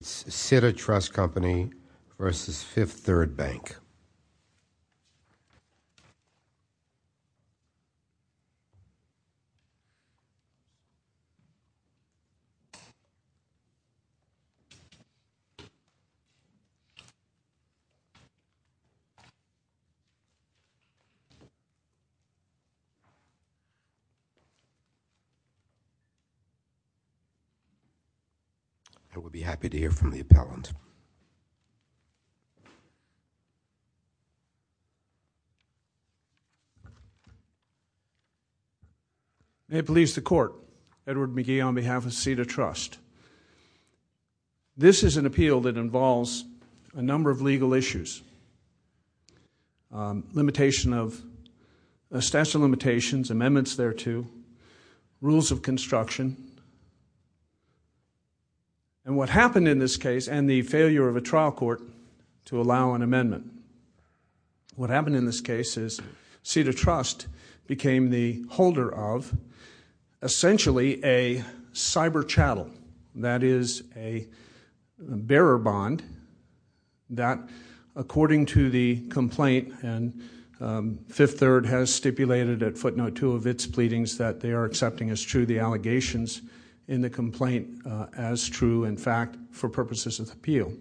Cita Trust Company v. Fifth Third Bank Cita Trust Company v. Fifth Third Bank May it please the Court, Edward McGee on behalf of Cita Trust. This is an appeal that involves a number of legal issues, limitation of statute of limitations, amendments thereto, rules of construction, and what happened in this case and the failure of a trial court to allow an amendment. What happened in this case is Cita Trust became the holder of essentially a cyber chattel, that is a bearer bond that according to the complaint and Fifth Third has stipulated at footnote two of its pleadings that they are accepting as true the allegations in the complaint as true in fact for purposes of the appeal.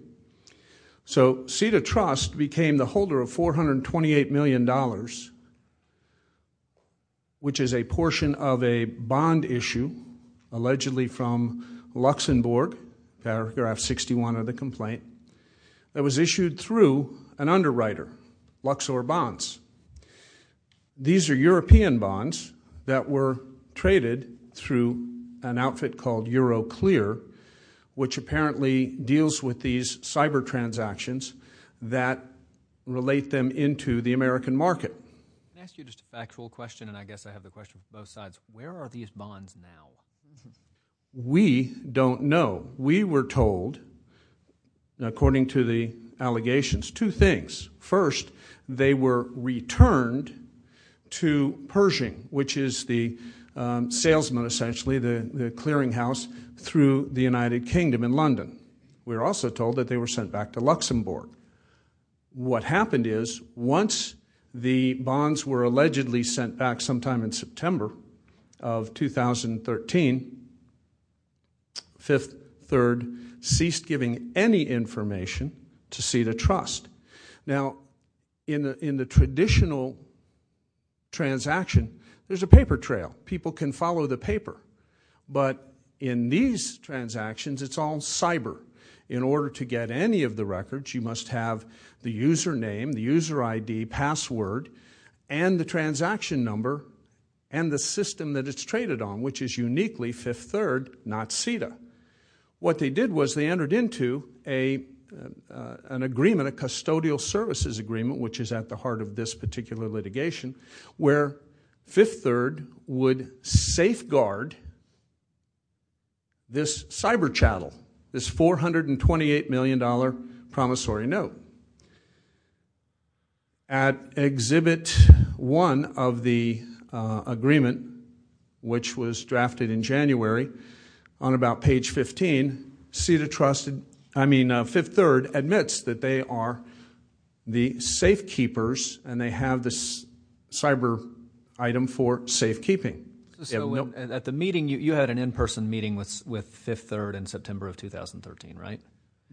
So Cita Trust became the holder of $428 million which is a portion of a bond issue allegedly from Luxembourg paragraph 61 of the complaint that was issued through an underwriter, Luxor Bonds. These are European traded through an outfit called EuroClear which apparently deals with these cyber transactions that relate them into the American market. Can I ask you just a factual question and I guess I have the question for both sides. Where are these bonds now? We don't know. We were told, according to the allegations, two things. First, they were salesman essentially, the clearing house through the United Kingdom in London. We were also told that they were sent back to Luxembourg. What happened is once the bonds were allegedly sent back sometime in September of 2013, Fifth Third ceased giving any information to Cita Trust. Now in the traditional transaction, there's a paper trail. People can follow the paper. But in these transactions, it's all cyber. In order to get any of the records, you must have the username, the user ID, password, and the transaction number and the system that it's traded on which is uniquely Fifth Third, not Cita. What they did was they entered into an agreement, a custodial services agreement which is at the heart of this particular litigation where Fifth Third would safeguard this cyber chattel, this $428 million promissory note. At exhibit one of the agreement which was drafted in page 15, Cita Trust, I mean Fifth Third, admits that they are the safekeepers and they have this cyber item for safekeeping. At the meeting, you had an in-person meeting with Fifth Third in September of 2013, right?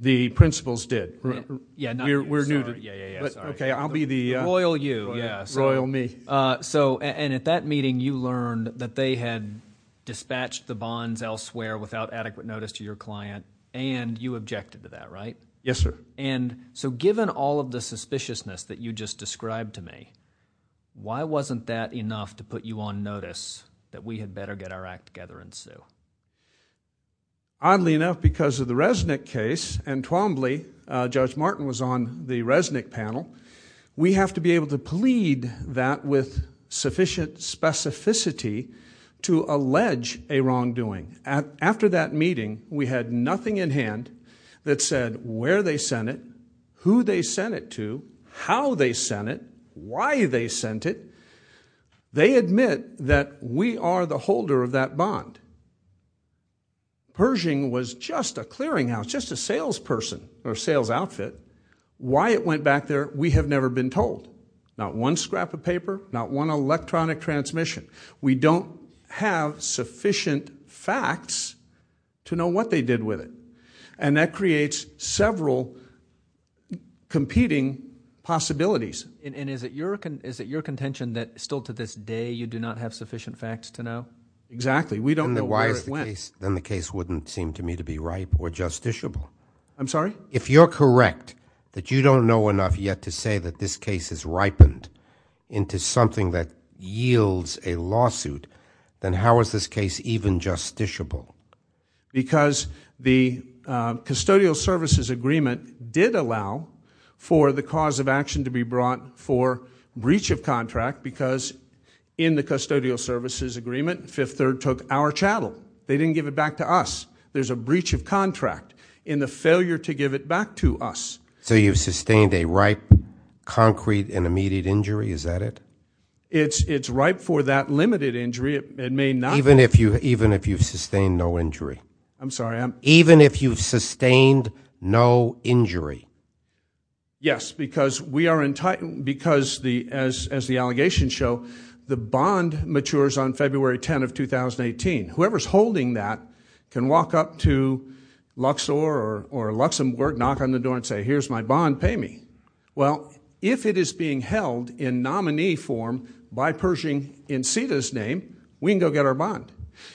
The principals did. We're new to it. Yeah, yeah. Okay, I'll be the... Royal you, yeah. Royal me. At that meeting, you learned that they had dispatched the bonds elsewhere without adequate notice to your client and you objected to that, right? Yes, sir. Given all of the suspiciousness that you just described to me, why wasn't that enough to put you on notice that we had better get our act together and sue? Oddly enough because of the Resnick case and Twombly, Judge Martin was on the Resnick panel, we have to be able to plead that with sufficient specificity to allege a wrongdoing. After that meeting, we had nothing in hand that said where they sent it, who they sent it to, how they sent it, why they sent it. They admit that we are the holder of that bond. Pershing was just a clearing house, just a salesperson or sales outfit. Why it went back there, we have never been told. Not one scrap of paper, not one electronic transmission. We don't have sufficient facts to know what they did with it. That creates several competing possibilities. Is it your contention that still to this day, you do not have sufficient facts to know? Exactly. We don't know where it went. Then the case wouldn't seem to me to be ripe or justiciable. I'm sorry? If you're correct that you don't know enough yet to say that this case has ripened into something that yields a lawsuit, then how is this case even justiciable? Because the custodial services agreement did allow for the cause of action to be brought for breach of contract because in the custodial services agreement, Fifth Third took our chattel. They didn't give it back to us. There's a breach of contract in the failure to give it back to us. So you've sustained a ripe, concrete, and immediate injury, is that it? It's ripe for that limited injury, it may not be. Even if you've sustained no injury? I'm sorry? Even if you've sustained no injury? Yes, because as the allegations show, the bond matures on February 10th of 2018. Whoever's holding that can walk up to Luxor or Luxor, knock on the door and say, here's my bond, pay me. Well, if it is being held in nominee form by Pershing in CETA's name, we can go get our bond.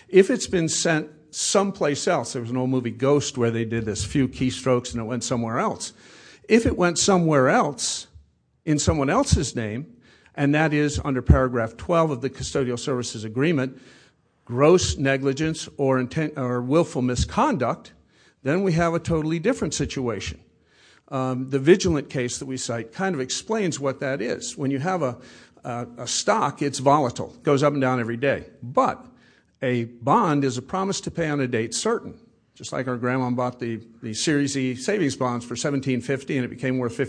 If it's been sent someplace else, there was an old movie, Ghost, where they did this few keystrokes and it went somewhere else. If it went somewhere else in someone else's name, and that is under paragraph 12 of the negligence or willful misconduct, then we have a totally different situation. The vigilant case that we cite kind of explains what that is. When you have a stock, it's volatile, it goes up and down every day. But a bond is a promise to pay on a date certain. Just like our grandma bought the Series E savings bonds for $17.50 and it became worth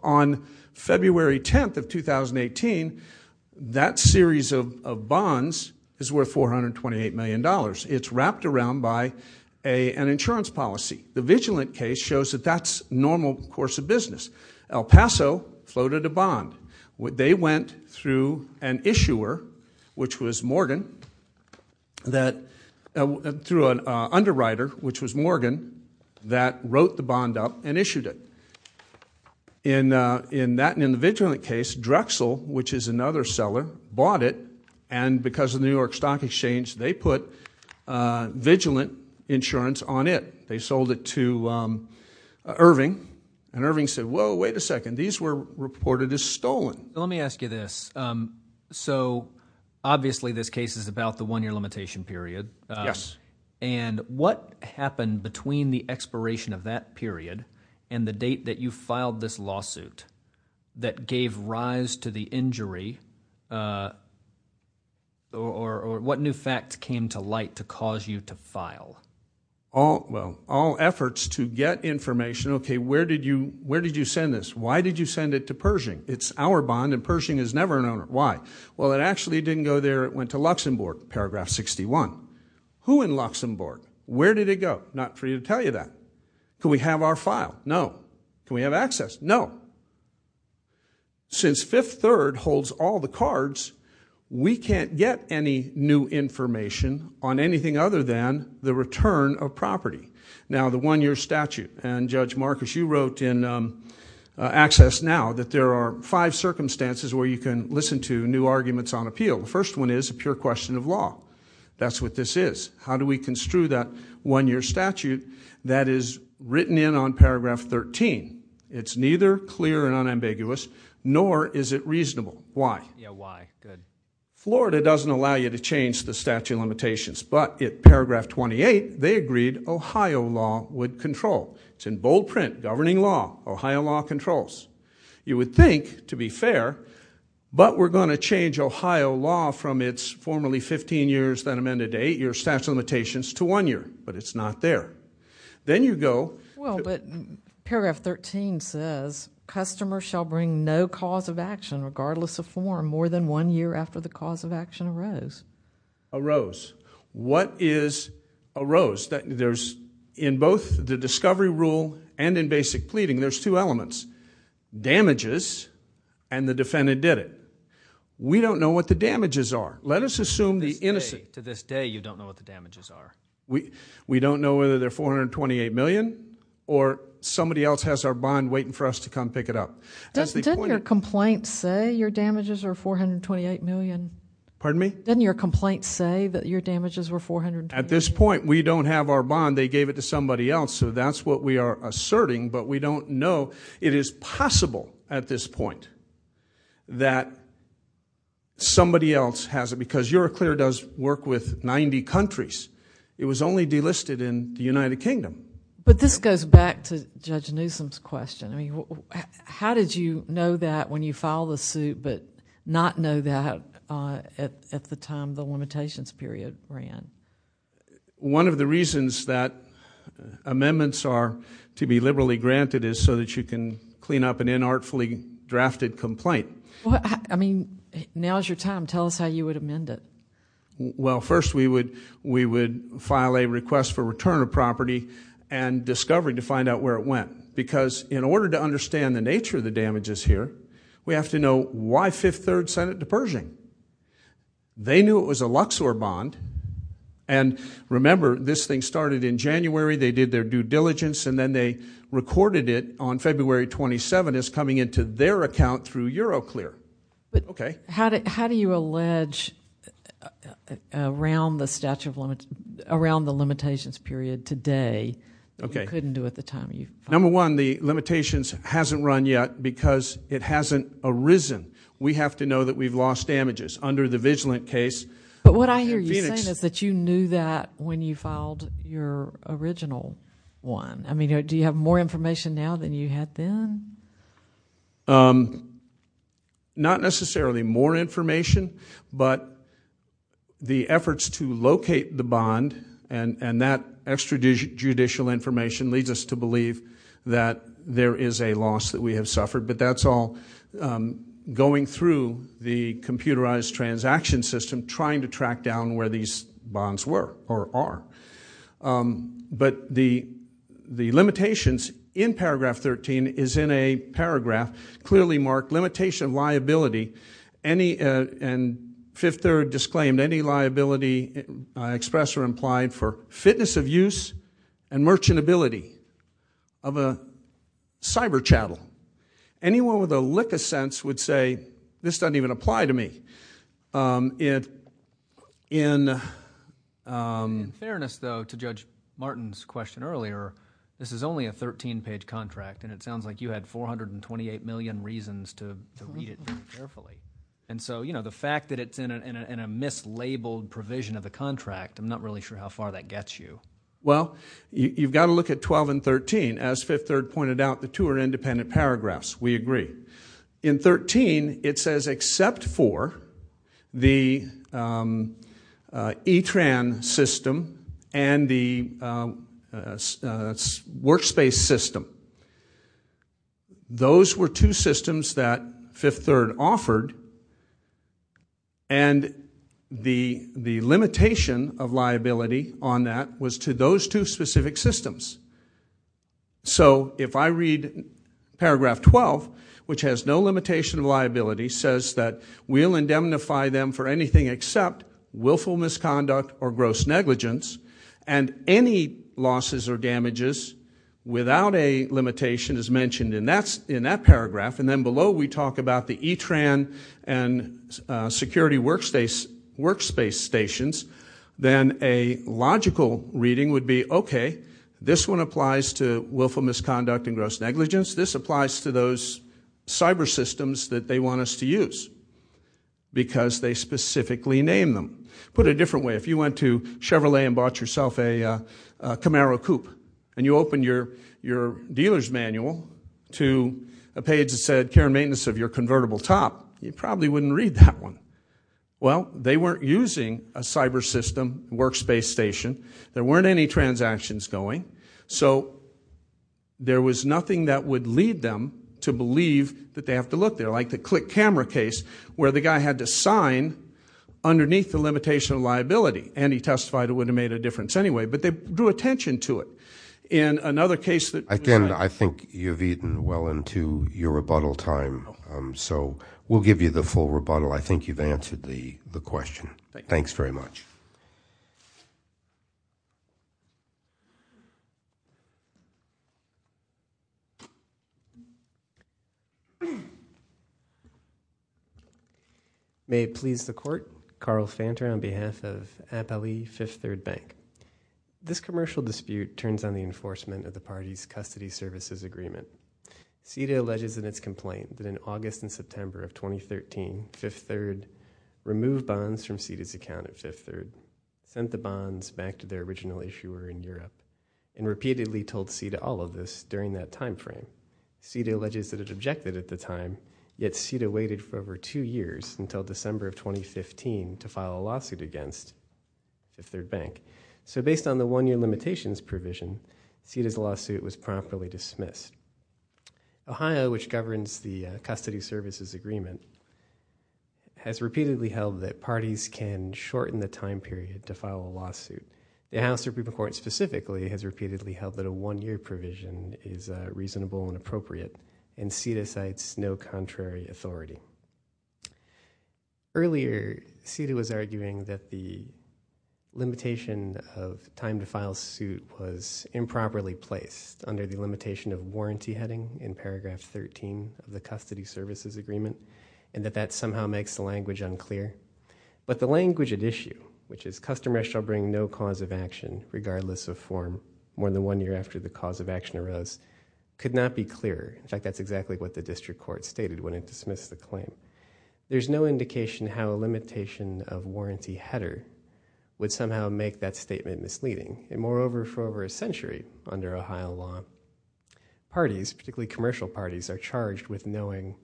On February 10th of 2018, that series of bonds is worth $428 million. It's wrapped around by an insurance policy. The vigilant case shows that that's normal course of business. El Paso floated a bond. They went through an issuer, which was Morgan, through an underwriter, which was Morgan, that wrote the bond up and issued it. In that and in the vigilant case, Drexel, which is another seller, bought it, and because of the New York Stock Exchange, they put vigilant insurance on it. They sold it to Irving, and Irving said, whoa, wait a second, these were reported as stolen. Let me ask you this, so obviously this case is about the one-year limitation period. Yes. And what happened between the expiration of that period and the date that you filed this lawsuit that gave rise to the injury, or what new facts came to light to cause you to file? All efforts to get information, okay, where did you send this? Why did you send it to Pershing? It's our bond and Pershing is never an owner. Why? Well, it actually didn't go there. It went to Luxembourg, paragraph 61. Who in Luxembourg? Where did it go? Not free to tell you that. Could we have our file? No. Can we have access? No. Since Fifth Third holds all the cards, we can't get any new information on anything other than the return of property. Now the one-year statute, and Judge Marcus, you wrote in Access Now that there are five circumstances where you can listen to new arguments on appeal. The first one is a pure question of law. That's what this is. How do we construe that one-year statute that is written in on paragraph 13? It's neither clear and unambiguous, nor is it reasonable. Why? Yeah, why? Good. Florida doesn't allow you to change the statute of limitations, but in paragraph 28, they agreed Ohio law would control. It's in bold print, governing law, Ohio law controls. You would think, to be fair, but we're going to change Ohio law from its formerly 15 years, then amended to eight years statute of limitations, to one year, but it's not there. Then you go... Well, but paragraph 13 says, customers shall bring no cause of action, regardless of form, more than one year after the cause of action arose. Arose. What is arose? There's, in both the discovery rule and in basic pleading, there's two elements. Damages, and the defendant did it. We don't know what the damages are. Let us assume the innocent... To this day, you don't know what the damages are. We don't know whether they're $428 million, or somebody else has our bond waiting for us to come pick it up. Didn't your complaint say your damages were $428 million? Pardon me? Didn't your complaint say that your damages were $428 million? At this point, we don't have our bond. They gave it to somebody else, so that's what we are asserting, but we don't know. It is possible at this point that somebody else has it, because Euroclear does work with 90 countries. It was only delisted in the United Kingdom. But this goes back to Judge Newsom's question. How did you know that when you filed the suit, but not know that at the time the limitations period ran? One of the reasons that amendments are to be liberally granted is so that you can clean up an inartfully drafted complaint. Now is your time. Tell us how you would amend it. Well, first we would file a request for return of property, and discovery to find out where it went. Because in order to understand the nature of the damages here, we have to know why Fifth Third sent it to Pershing. They knew it was a Luxor bond, and remember, this thing started in January, they did their due diligence, and then they recorded it on February 27th as coming into their account through Euroclear. But how do you allege around the limitations period today that we couldn't do at the time you filed? Number one, the limitations hasn't run yet because it hasn't arisen. We have to know that we've lost damages under the Vigilant case. But what I hear you saying is that you knew that when you filed your original one. I mean, do you have more information now than you had then? Not necessarily more information, but the efforts to locate the bond and that extrajudicial information leads us to believe that there is a loss that we have suffered. But that's all going through the computerized transaction system trying to track down where these bonds were or are. But the limitations in paragraph 13 is in a paragraph clearly marked limitation of liability and Fifth Third disclaimed any liability expressed or implied for fitness of use and merchantability of a cyber chattel. Anyone with a lick of sense would say, this doesn't even apply to me. In fairness, though, to Judge Martin's question earlier, this is only a 13-page contract and it sounds like you had 428 million reasons to read it very carefully. And so the fact that it's in a mislabeled provision of the contract, I'm not really sure how far that gets you. Well, you've got to look at 12 and 13. As Fifth Third pointed out, the two are independent paragraphs. We agree. In 13, it says except for the e-tran system and the workspace system. Those were two systems that Fifth Third offered and the limitation of liability on that was to those two specific systems. So if I read paragraph 12, which has no limitation of liability, says that we'll indemnify them for anything except willful misconduct or gross negligence and any losses or damages without a limitation as mentioned in that paragraph and then below we talk about the reading would be, okay, this one applies to willful misconduct and gross negligence. This applies to those cyber systems that they want us to use because they specifically named them. Put it a different way. If you went to Chevrolet and bought yourself a Camaro coupe and you opened your dealer's manual to a page that said care and maintenance of your convertible top, you probably wouldn't read that one. Well, they weren't using a cyber system workspace station. There weren't any transactions going. So there was nothing that would lead them to believe that they have to look there. Like the click camera case where the guy had to sign underneath the limitation of liability and he testified it would have made a difference anyway, but they drew attention to it. In another case that- Again, I think you've eaten well into your rebuttal time. So we'll give you the full rebuttal. I think you've answered the question. Thanks very much. Thank you. May it please the court, Carl Fanter on behalf of Appallee Fifth Third Bank. This commercial dispute turns on the enforcement of the party's custody services agreement. CETA alleges in its complaint that in August and September of 2013, Fifth Third removed bonds from CETA's account at Fifth Third, sent the bonds back to their original issuer in Europe, and repeatedly told CETA all of this during that timeframe. CETA alleges that it objected at the time, yet CETA waited for over two years until December of 2015 to file a lawsuit against Fifth Third Bank. So based on the one-year limitations provision, CETA's lawsuit was promptly dismissed. Ohio, which governs the custody services agreement, has repeatedly held that parties can shorten the time period to file a lawsuit. The House Supreme Court specifically has repeatedly held that a one-year provision is reasonable and appropriate, and CETA cites no contrary authority. Earlier, CETA was arguing that the limitation of time to file suit was improperly placed under the limitation of warranty heading in paragraph 13 of the custody services agreement, and that that somehow makes the language unclear. But the language at issue, which is, customers shall bring no cause of action regardless of form more than one year after the cause of action arose, could not be clearer. In fact, that's exactly what the district court stated when it dismissed the claim. There's no indication how a limitation of warranty header would somehow make that statement misleading. And moreover, for over a century under Ohio law, parties, particularly commercial parties, are charged with knowing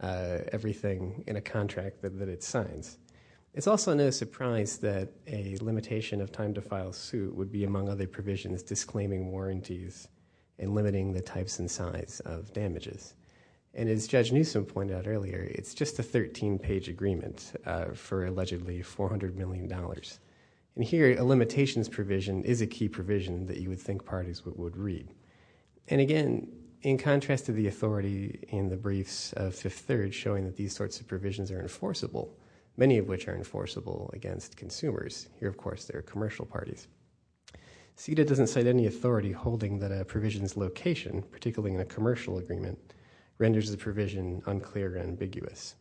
everything in a contract that it signs. It's also no surprise that a limitation of time to file suit would be, among other provisions, disclaiming warranties and limiting the types and size of damages. And as Judge Newsom pointed out earlier, it's just a 13-page agreement for allegedly $400 million. And here, a limitations provision is a key provision that you would think parties would read. And again, in contrast to the authority in the briefs of Fifth Third showing that these sorts of provisions are enforceable, many of which are enforceable against consumers, here, of course, they're commercial parties. CETA doesn't cite any authority holding that a provision's location, particularly in a commercial agreement, renders the provision unclear or ambiguous.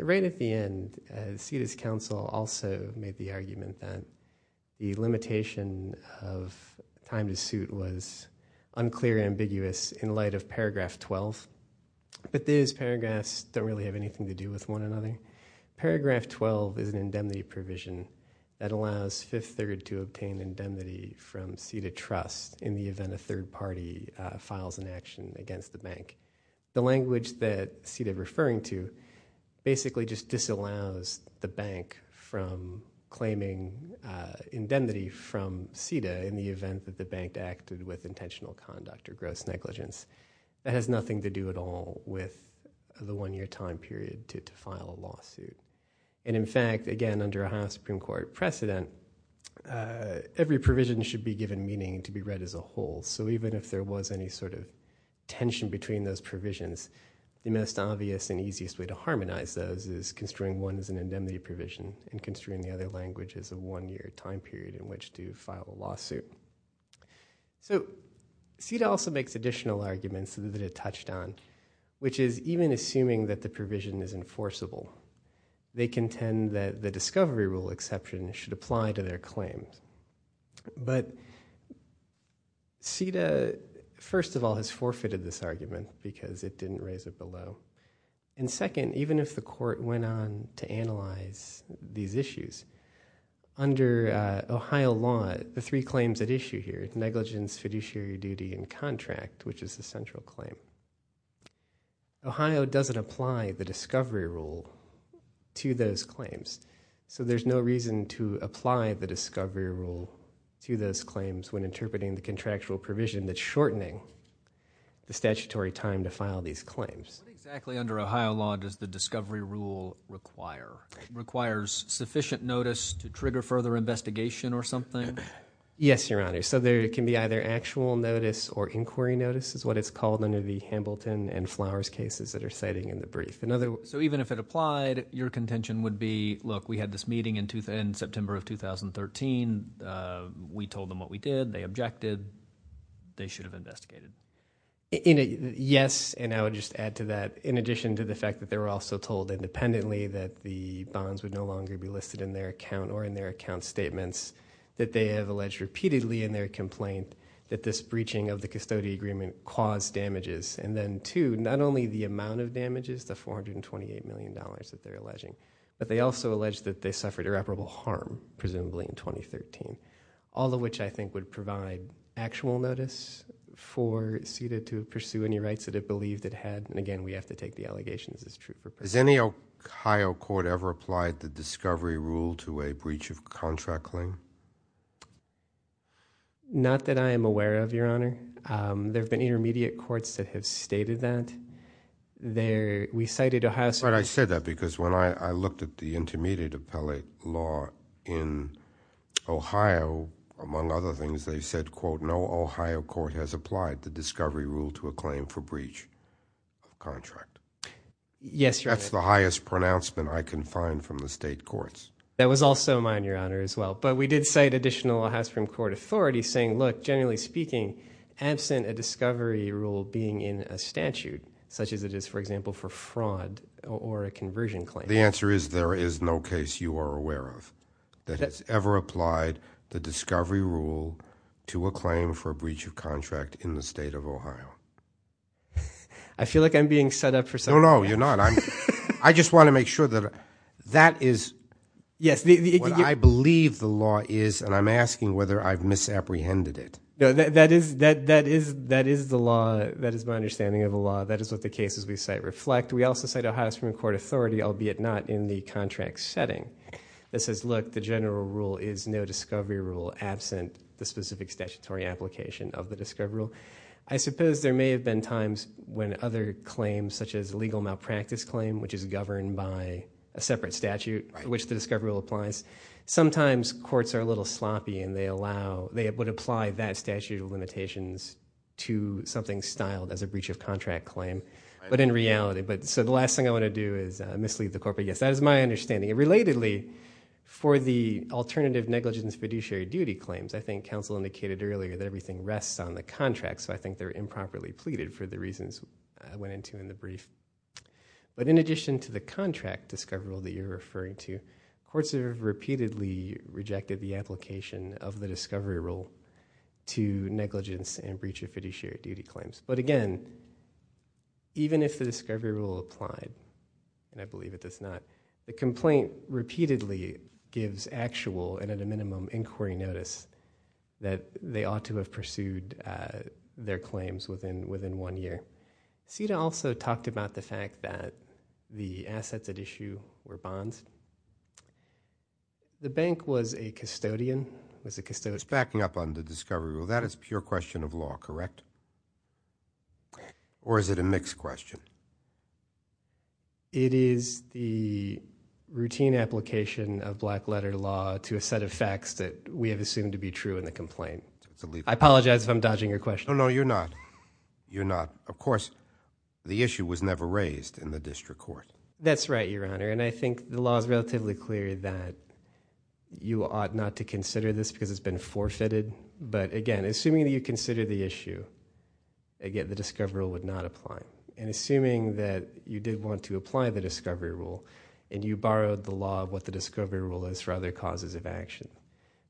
Right at the end, CETA's counsel also made the argument that the limitation of time to suit was unclear and ambiguous in light of paragraph 12. But these paragraphs don't really have anything to do with one another. Paragraph 12 is an indemnity provision that allows Fifth Third to obtain indemnity from CETA trust in the event a third party files an action against the bank. The language that CETA's referring to basically just disallows the bank from claiming indemnity from CETA in the event that the bank acted with intentional conduct or gross negligence. It has nothing to do at all with the one-year time period to file a lawsuit. And in fact, again, under a House Supreme Court precedent, every provision should be given meaning to be read as a whole. So even if there was any sort of tension between those provisions, the most obvious and easiest way to harmonize those is construing one as an indemnity provision and construing the other language as a one-year time period in which to file a lawsuit. So CETA also makes additional arguments that it touched on, which is even assuming that the provision is enforceable, they contend that the discovery rule exception should apply to their claim. But CETA, first of all, has forfeited this argument because it didn't raise it below. And second, even if the court went on to analyze these issues, under Ohio law, the three claims at issue here, negligence, fiduciary duty, and contract, which is the central claim, Ohio doesn't apply the discovery rule to those claims. So there's no reason to apply the discovery rule to those claims when interpreting the contractual provision that's shortening the statutory time to file these claims. What exactly under Ohio law does the discovery rule require? It requires sufficient notice to trigger further investigation or something? Yes, Your Honor. So there can be either actual notice or inquiry notice is what it's called under the Hamilton and Flowers cases that are cited in the brief. So even if it applied, your contention would be, look, we had this meeting in September of 2013. We told them what we did. They objected. They should have investigated. Yes. And I would just add to that, in addition to the fact that they were also told independently that the bonds would no longer be listed in their account or in their account statements, that they have alleged repeatedly in their complaint that this breaching of the custody agreement caused damages. And then two, not only the amount of damages, the $428 million that they're alleging, but they also alleged that they suffered irreparable harm, presumably in 2013, all of which I think would provide actual notice for CIDA to pursue any rights that it believed it had. And again, we have to take the allegations as true. Has any Ohio court ever applied the discovery rule to a breach of contract claim? Not that I am aware of, Your Honor. There have been intermediate courts that have stated that. We cited Ohio Supreme Court. But I said that because when I looked at the intermediate appellate law in Ohio, among other things, they said, quote, no Ohio court has applied the discovery rule to a claim for breach of contract. Yes, Your Honor. That's the highest pronouncement I can find from the state courts. That was also mine, Your Honor, as well. But we did cite additional Ohio Supreme Court authorities saying, look, generally speaking, absent a discovery rule being in a statute, such as it is, for example, for fraud or a conversion claim. The answer is there is no case you are aware of that has ever applied the discovery rule to a claim for a breach of contract in the state of Ohio. I feel like I'm being set up for some kind of action. No, no, you're not. I just want to make sure that that is what I believe the law is, and I'm asking whether I've misapprehended it. That is the law. That is my understanding of the law. That is what the cases we cite reflect. We also cite Ohio Supreme Court authority, albeit not in the contract setting, that says, look, the general rule is no discovery rule absent the specific statutory application of the discovery rule. I suppose there may have been times when other claims, such as a legal malpractice claim, which is governed by a separate statute, which the discovery rule applies, sometimes courts are a little sloppy, and they would apply that statute of limitations to something styled as a breach of contract claim. But in reality, the last thing I want to do is mislead the court, but yes, that is my understanding. Relatedly, for the alternative negligence fiduciary duty claims, I think counsel indicated earlier that everything rests on the contract, so I think they're improperly pleaded for the reasons I went into in the brief. But in addition to the contract discovery rule that you're referring to, courts have repeatedly rejected the application of the discovery rule to negligence and breach of fiduciary duty claims. But again, even if the discovery rule applied, and I believe it does not, the complaint repeatedly gives actual, and at a minimum, inquiry notice that they ought to have pursued their claims within one year. CETA also talked about the fact that the assets at issue were bonds. The bank was a custodian. It was a custodian. It's backing up on the discovery rule. That is pure question of law, correct? Or is it a mixed question? It is the routine application of black letter law to a set of facts that we have assumed to be true in the complaint. I apologize if I'm dodging your question. No, no, you're not. You're not. Of course, the issue was never raised in the district court. That's right, Your Honor. And I think the law is relatively clear that you ought not to consider this, because it's been forfeited. But again, assuming that you consider the issue, again, the discovery rule would not apply. And assuming that you did want to apply the discovery rule, and you borrowed the law of what the discovery rule is for other causes of action,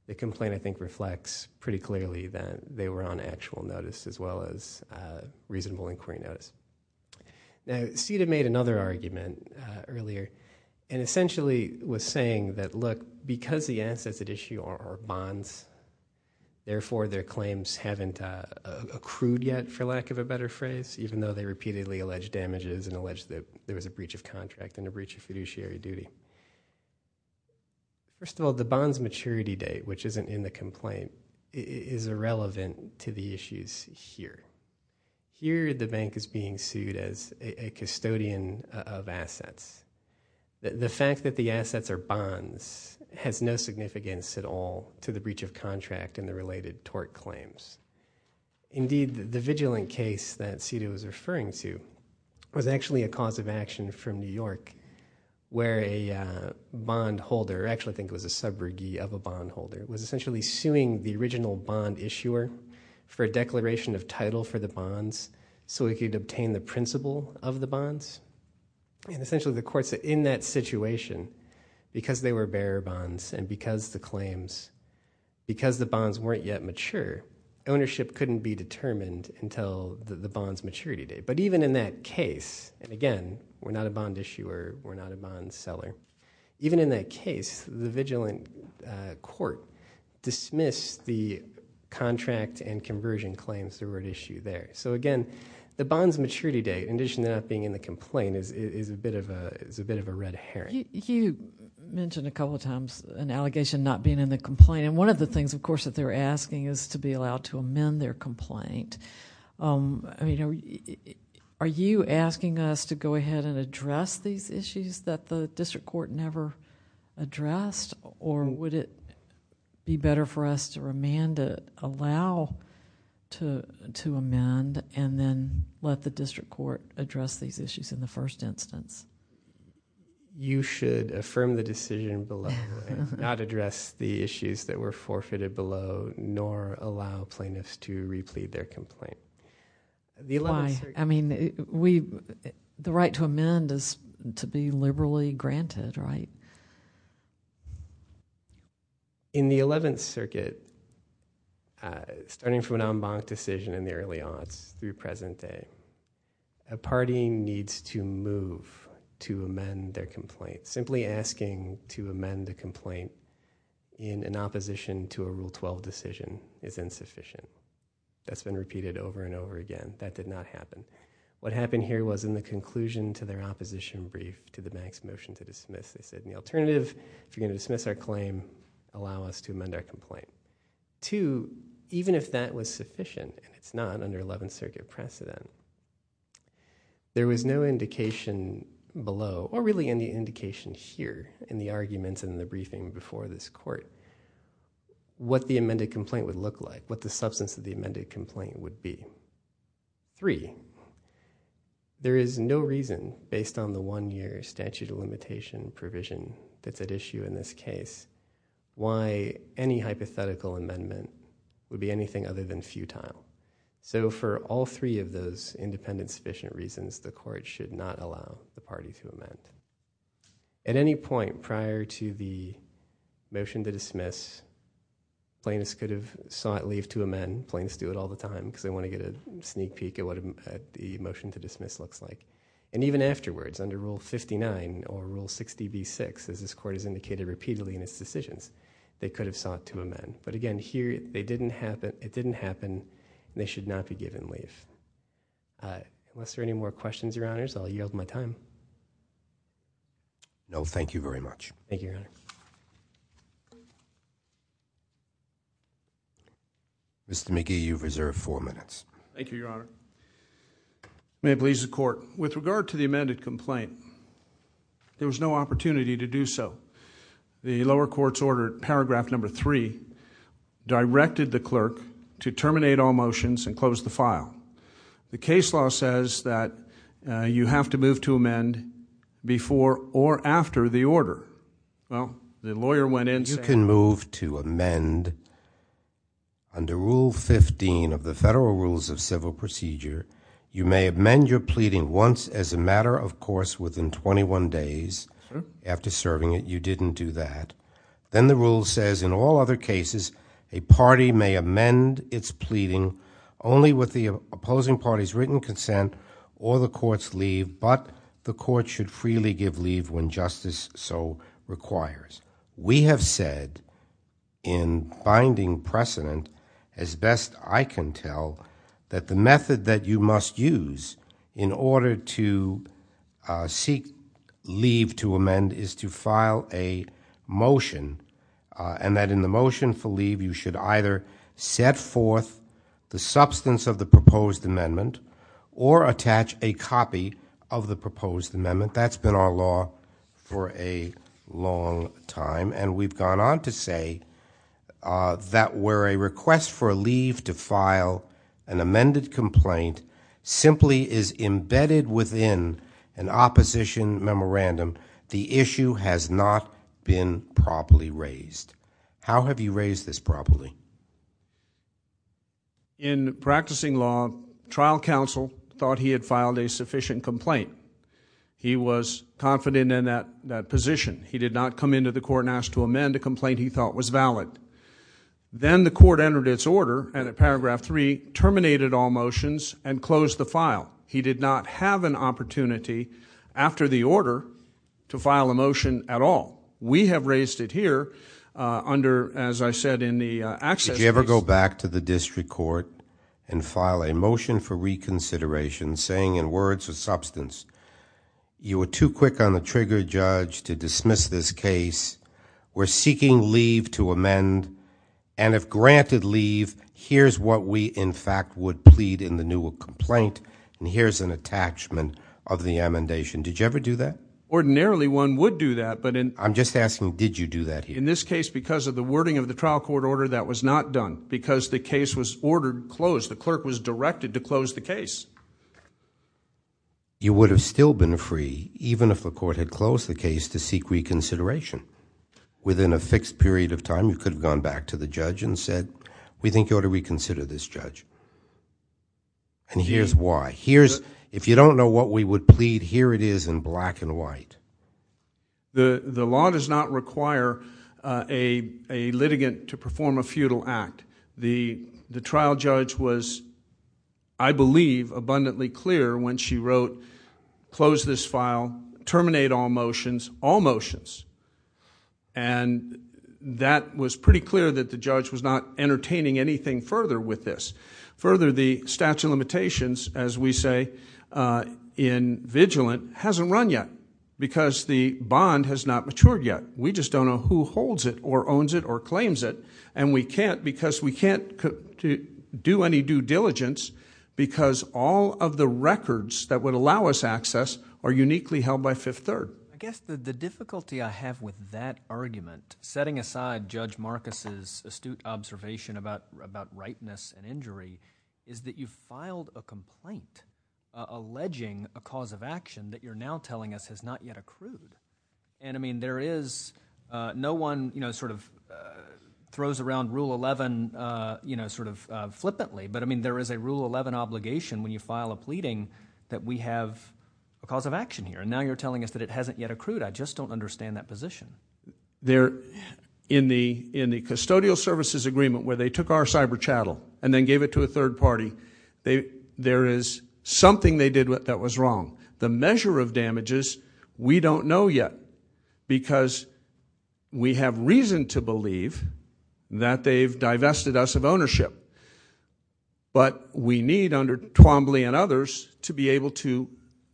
the complaint, I think, reflects pretty clearly that they were on actual notice, as well as reasonable inquiry notice. Now, CETA made another argument earlier, and essentially was saying that, look, because the assets at issue are bonds, therefore, their claims haven't accrued yet, for lack of a better term, and they repeatedly allege damages and allege that there was a breach of contract and a breach of fiduciary duty. First of all, the bonds maturity date, which isn't in the complaint, is irrelevant to the issues here. Here, the bank is being sued as a custodian of assets. The fact that the assets are bonds has no significance at all to the breach of contract and the related tort claims. Indeed, the vigilant case that CETA was referring to was actually a cause of action from New York, where a bondholder, actually, I think it was a subrogee of a bondholder, was essentially suing the original bond issuer for a declaration of title for the bonds, so he could obtain the principle of the bonds. And essentially, the court said, in that situation, because they were bearer bonds, and because the claims, because the bonds weren't yet mature, ownership couldn't be determined until the bonds maturity date. But even in that case, and again, we're not a bond issuer, we're not a bond seller, even in that case, the vigilant court dismissed the contract and conversion claims that were at issue there. So again, the bonds maturity date, in addition to not being in the complaint, is a bit of a red herring. You mentioned a couple of times an allegation not being in the complaint, and one of the things, of course, that they're asking is to be allowed to amend their complaint. Are you asking us to go ahead and address these issues that the district court never addressed, or would it be better for us to remand it, allow to amend, and then let the district court address these issues in the first instance? You should affirm the decision below and not address the issues that were forfeited below, nor allow plaintiffs to replead their complaint. Why? I mean, the right to amend is to be liberally granted, right? In the 11th Circuit, starting from an en banc decision in the early aughts through present day, a party needs to move to amend their complaint. Simply asking to amend a complaint in an opposition to a Rule 12 decision is insufficient. That's been repeated over and over again. That did not happen. What happened here was in the conclusion to their opposition brief to the bank's motion to dismiss, they said, in the alternative, if you're going to dismiss our claim, allow us to amend our complaint. Two, even if that was sufficient, and it's not under 11th Circuit precedent, there was no indication below, or really any indication here in the arguments and in the briefing before this court, what the amended complaint would look like, what the substance of the amended complaint would be. Three, there is no reason based on the one year statute of limitation provision that's issue in this case, why any hypothetical amendment would be anything other than futile. For all three of those independent sufficient reasons, the court should not allow the party to amend. At any point prior to the motion to dismiss, plaintiffs could have sought leave to amend. Plaintiffs do it all the time because they want to get a sneak peek at what the motion to dismiss looks like. Even afterwards, under Rule 59 or Rule 60B-6, as this court has indicated repeatedly in its decisions, they could have sought to amend, but again, it didn't happen, and they should not be given leave. Unless there are any more questions, Your Honors, I'll yield my time. No, thank you very much. Thank you, Your Honor. Mr. McGee, you've reserved four minutes. Thank you, Your Honor. If it pleases the court, with regard to the amended complaint, there was no opportunity to do so. The lower court's order, paragraph number three, directed the clerk to terminate all motions and close the file. The case law says that you have to move to amend before or after the order. Well, the lawyer went in and said- Under Rule 15 of the Federal Rules of Civil Procedure, you may amend your pleading once as a matter of course within 21 days after serving it. You didn't do that. Then the rule says in all other cases, a party may amend its pleading only with the opposing party's written consent or the court's leave, but the court should freely give leave when justice so requires. We have said in binding precedent, as best I can tell, that the method that you must use in order to seek leave to amend is to file a motion and that in the motion for leave, you should either set forth the substance of the proposed amendment or attach a copy of the proposed amendment. That's been our law for a long time and we've gone on to say that where a request for leave to file an amended complaint simply is embedded within an opposition memorandum, the issue has not been properly raised. How have you raised this properly? In practicing law, trial counsel thought he had filed a sufficient complaint. He was confident in that position. He did not come into the court and ask to amend a complaint he thought was valid. Then the court entered its order and at paragraph 3, terminated all motions and closed the file. He did not have an opportunity after the order to file a motion at all. We have raised it here under, as I said in the access case. Did you ever go back to the district court and file a motion for reconsideration saying in words or substance, you were too quick on the trigger judge to dismiss this case. We're seeking leave to amend and if granted leave, here's what we in fact would plead in the new complaint and here's an attachment of the amendation. Did you ever do that? Ordinarily, one would do that. I'm just asking, did you do that here? In this case, because of the wording of the trial court order, that was not done because the case was ordered closed. The clerk was directed to close the case. You would have still been free even if the court had closed the case to seek reconsideration. Within a fixed period of time, you could have gone back to the judge and said, we think you ought to reconsider this judge and here's why. If you don't know what we would plead, here it is in black and white. The law does not require a litigant to perform a futile act. The trial judge was, I believe, abundantly clear when she wrote, close this file, terminate all motions, all motions. That was pretty clear that the judge was not entertaining anything further with this. Further, the statute of limitations, as we say in vigilant, hasn't run yet because the bond has not matured yet. We just don't know who holds it or owns it or claims it and we can't because we can't do any due diligence because all of the records that would allow us access are uniquely held by Fifth Third. I guess the difficulty I have with that argument, setting aside Judge Marcus' astute observation about rightness and injury, is that you filed a complaint alleging a cause of action that you're now telling us has not yet accrued. I mean, there is, no one throws around Rule 11 flippantly, but there is a Rule 11 obligation when you file a pleading that we have a cause of action here and now you're telling us that it hasn't yet accrued. I just don't understand that position. In the custodial services agreement where they took our cyber chattel and then gave it to a third party, there is something they did that was wrong. The measure of damages we don't know yet because we have reason to believe that they've divested us of ownership, but we need under Twombly and others to be able to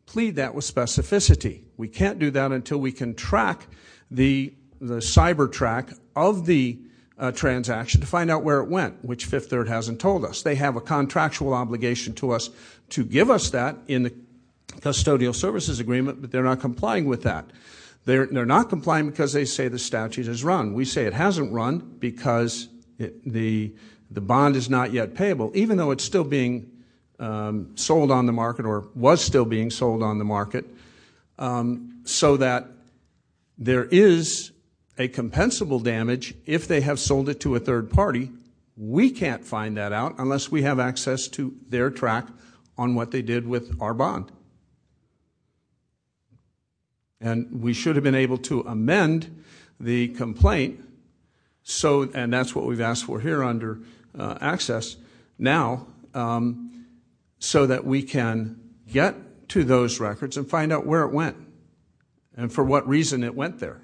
plead that with specificity. We can't do that until we can track the cyber track of the transaction to find out where it went, which Fifth Third hasn't told us. They have a contractual obligation to us to give us that in the custodial services agreement, but they're not complying with that. They're not complying because they say the statute is wrong. We say it hasn't run because the bond is not yet payable, even though it's still being sold on the market or was still being sold on the market, so that there is a compensable damage if they have sold it to a third party. We can't find that out unless we have access to their track on what they did with our bond. We should have been able to amend the complaint, and that's what we've asked for here under access now, so that we can get to those records and find out where it went and for what reason it went there.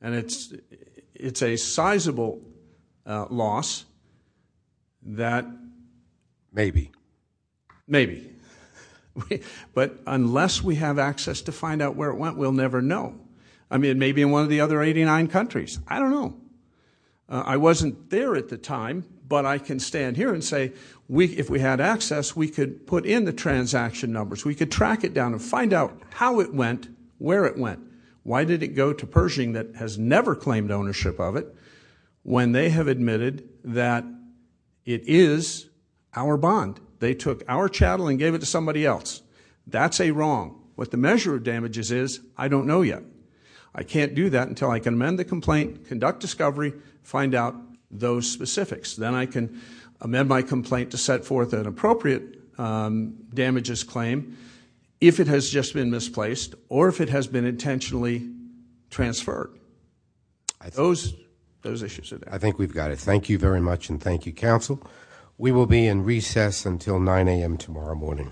It's a sizable loss that maybe, but unless we have access to find out where it went, we'll never know. I mean, maybe in one of the other 89 countries. I don't know. I wasn't there at the time, but I can stand here and say if we had access, we could put in the transaction numbers. We could track it down and find out how it went, where it went. Why did it go to Pershing that has never claimed ownership of it when they have admitted that it is our bond? They took our chattel and gave it to somebody else. That's a wrong. What the measure of damages is, I don't know yet. I can't do that until I can amend the complaint, conduct discovery, find out those specifics. Then I can amend my complaint to set forth an appropriate damages claim if it has just been misplaced or if it has been intentionally transferred. Those issues are there. I think we've got it. Thank you very much and thank you, counsel. We will be in recess until 9 a.m. tomorrow morning.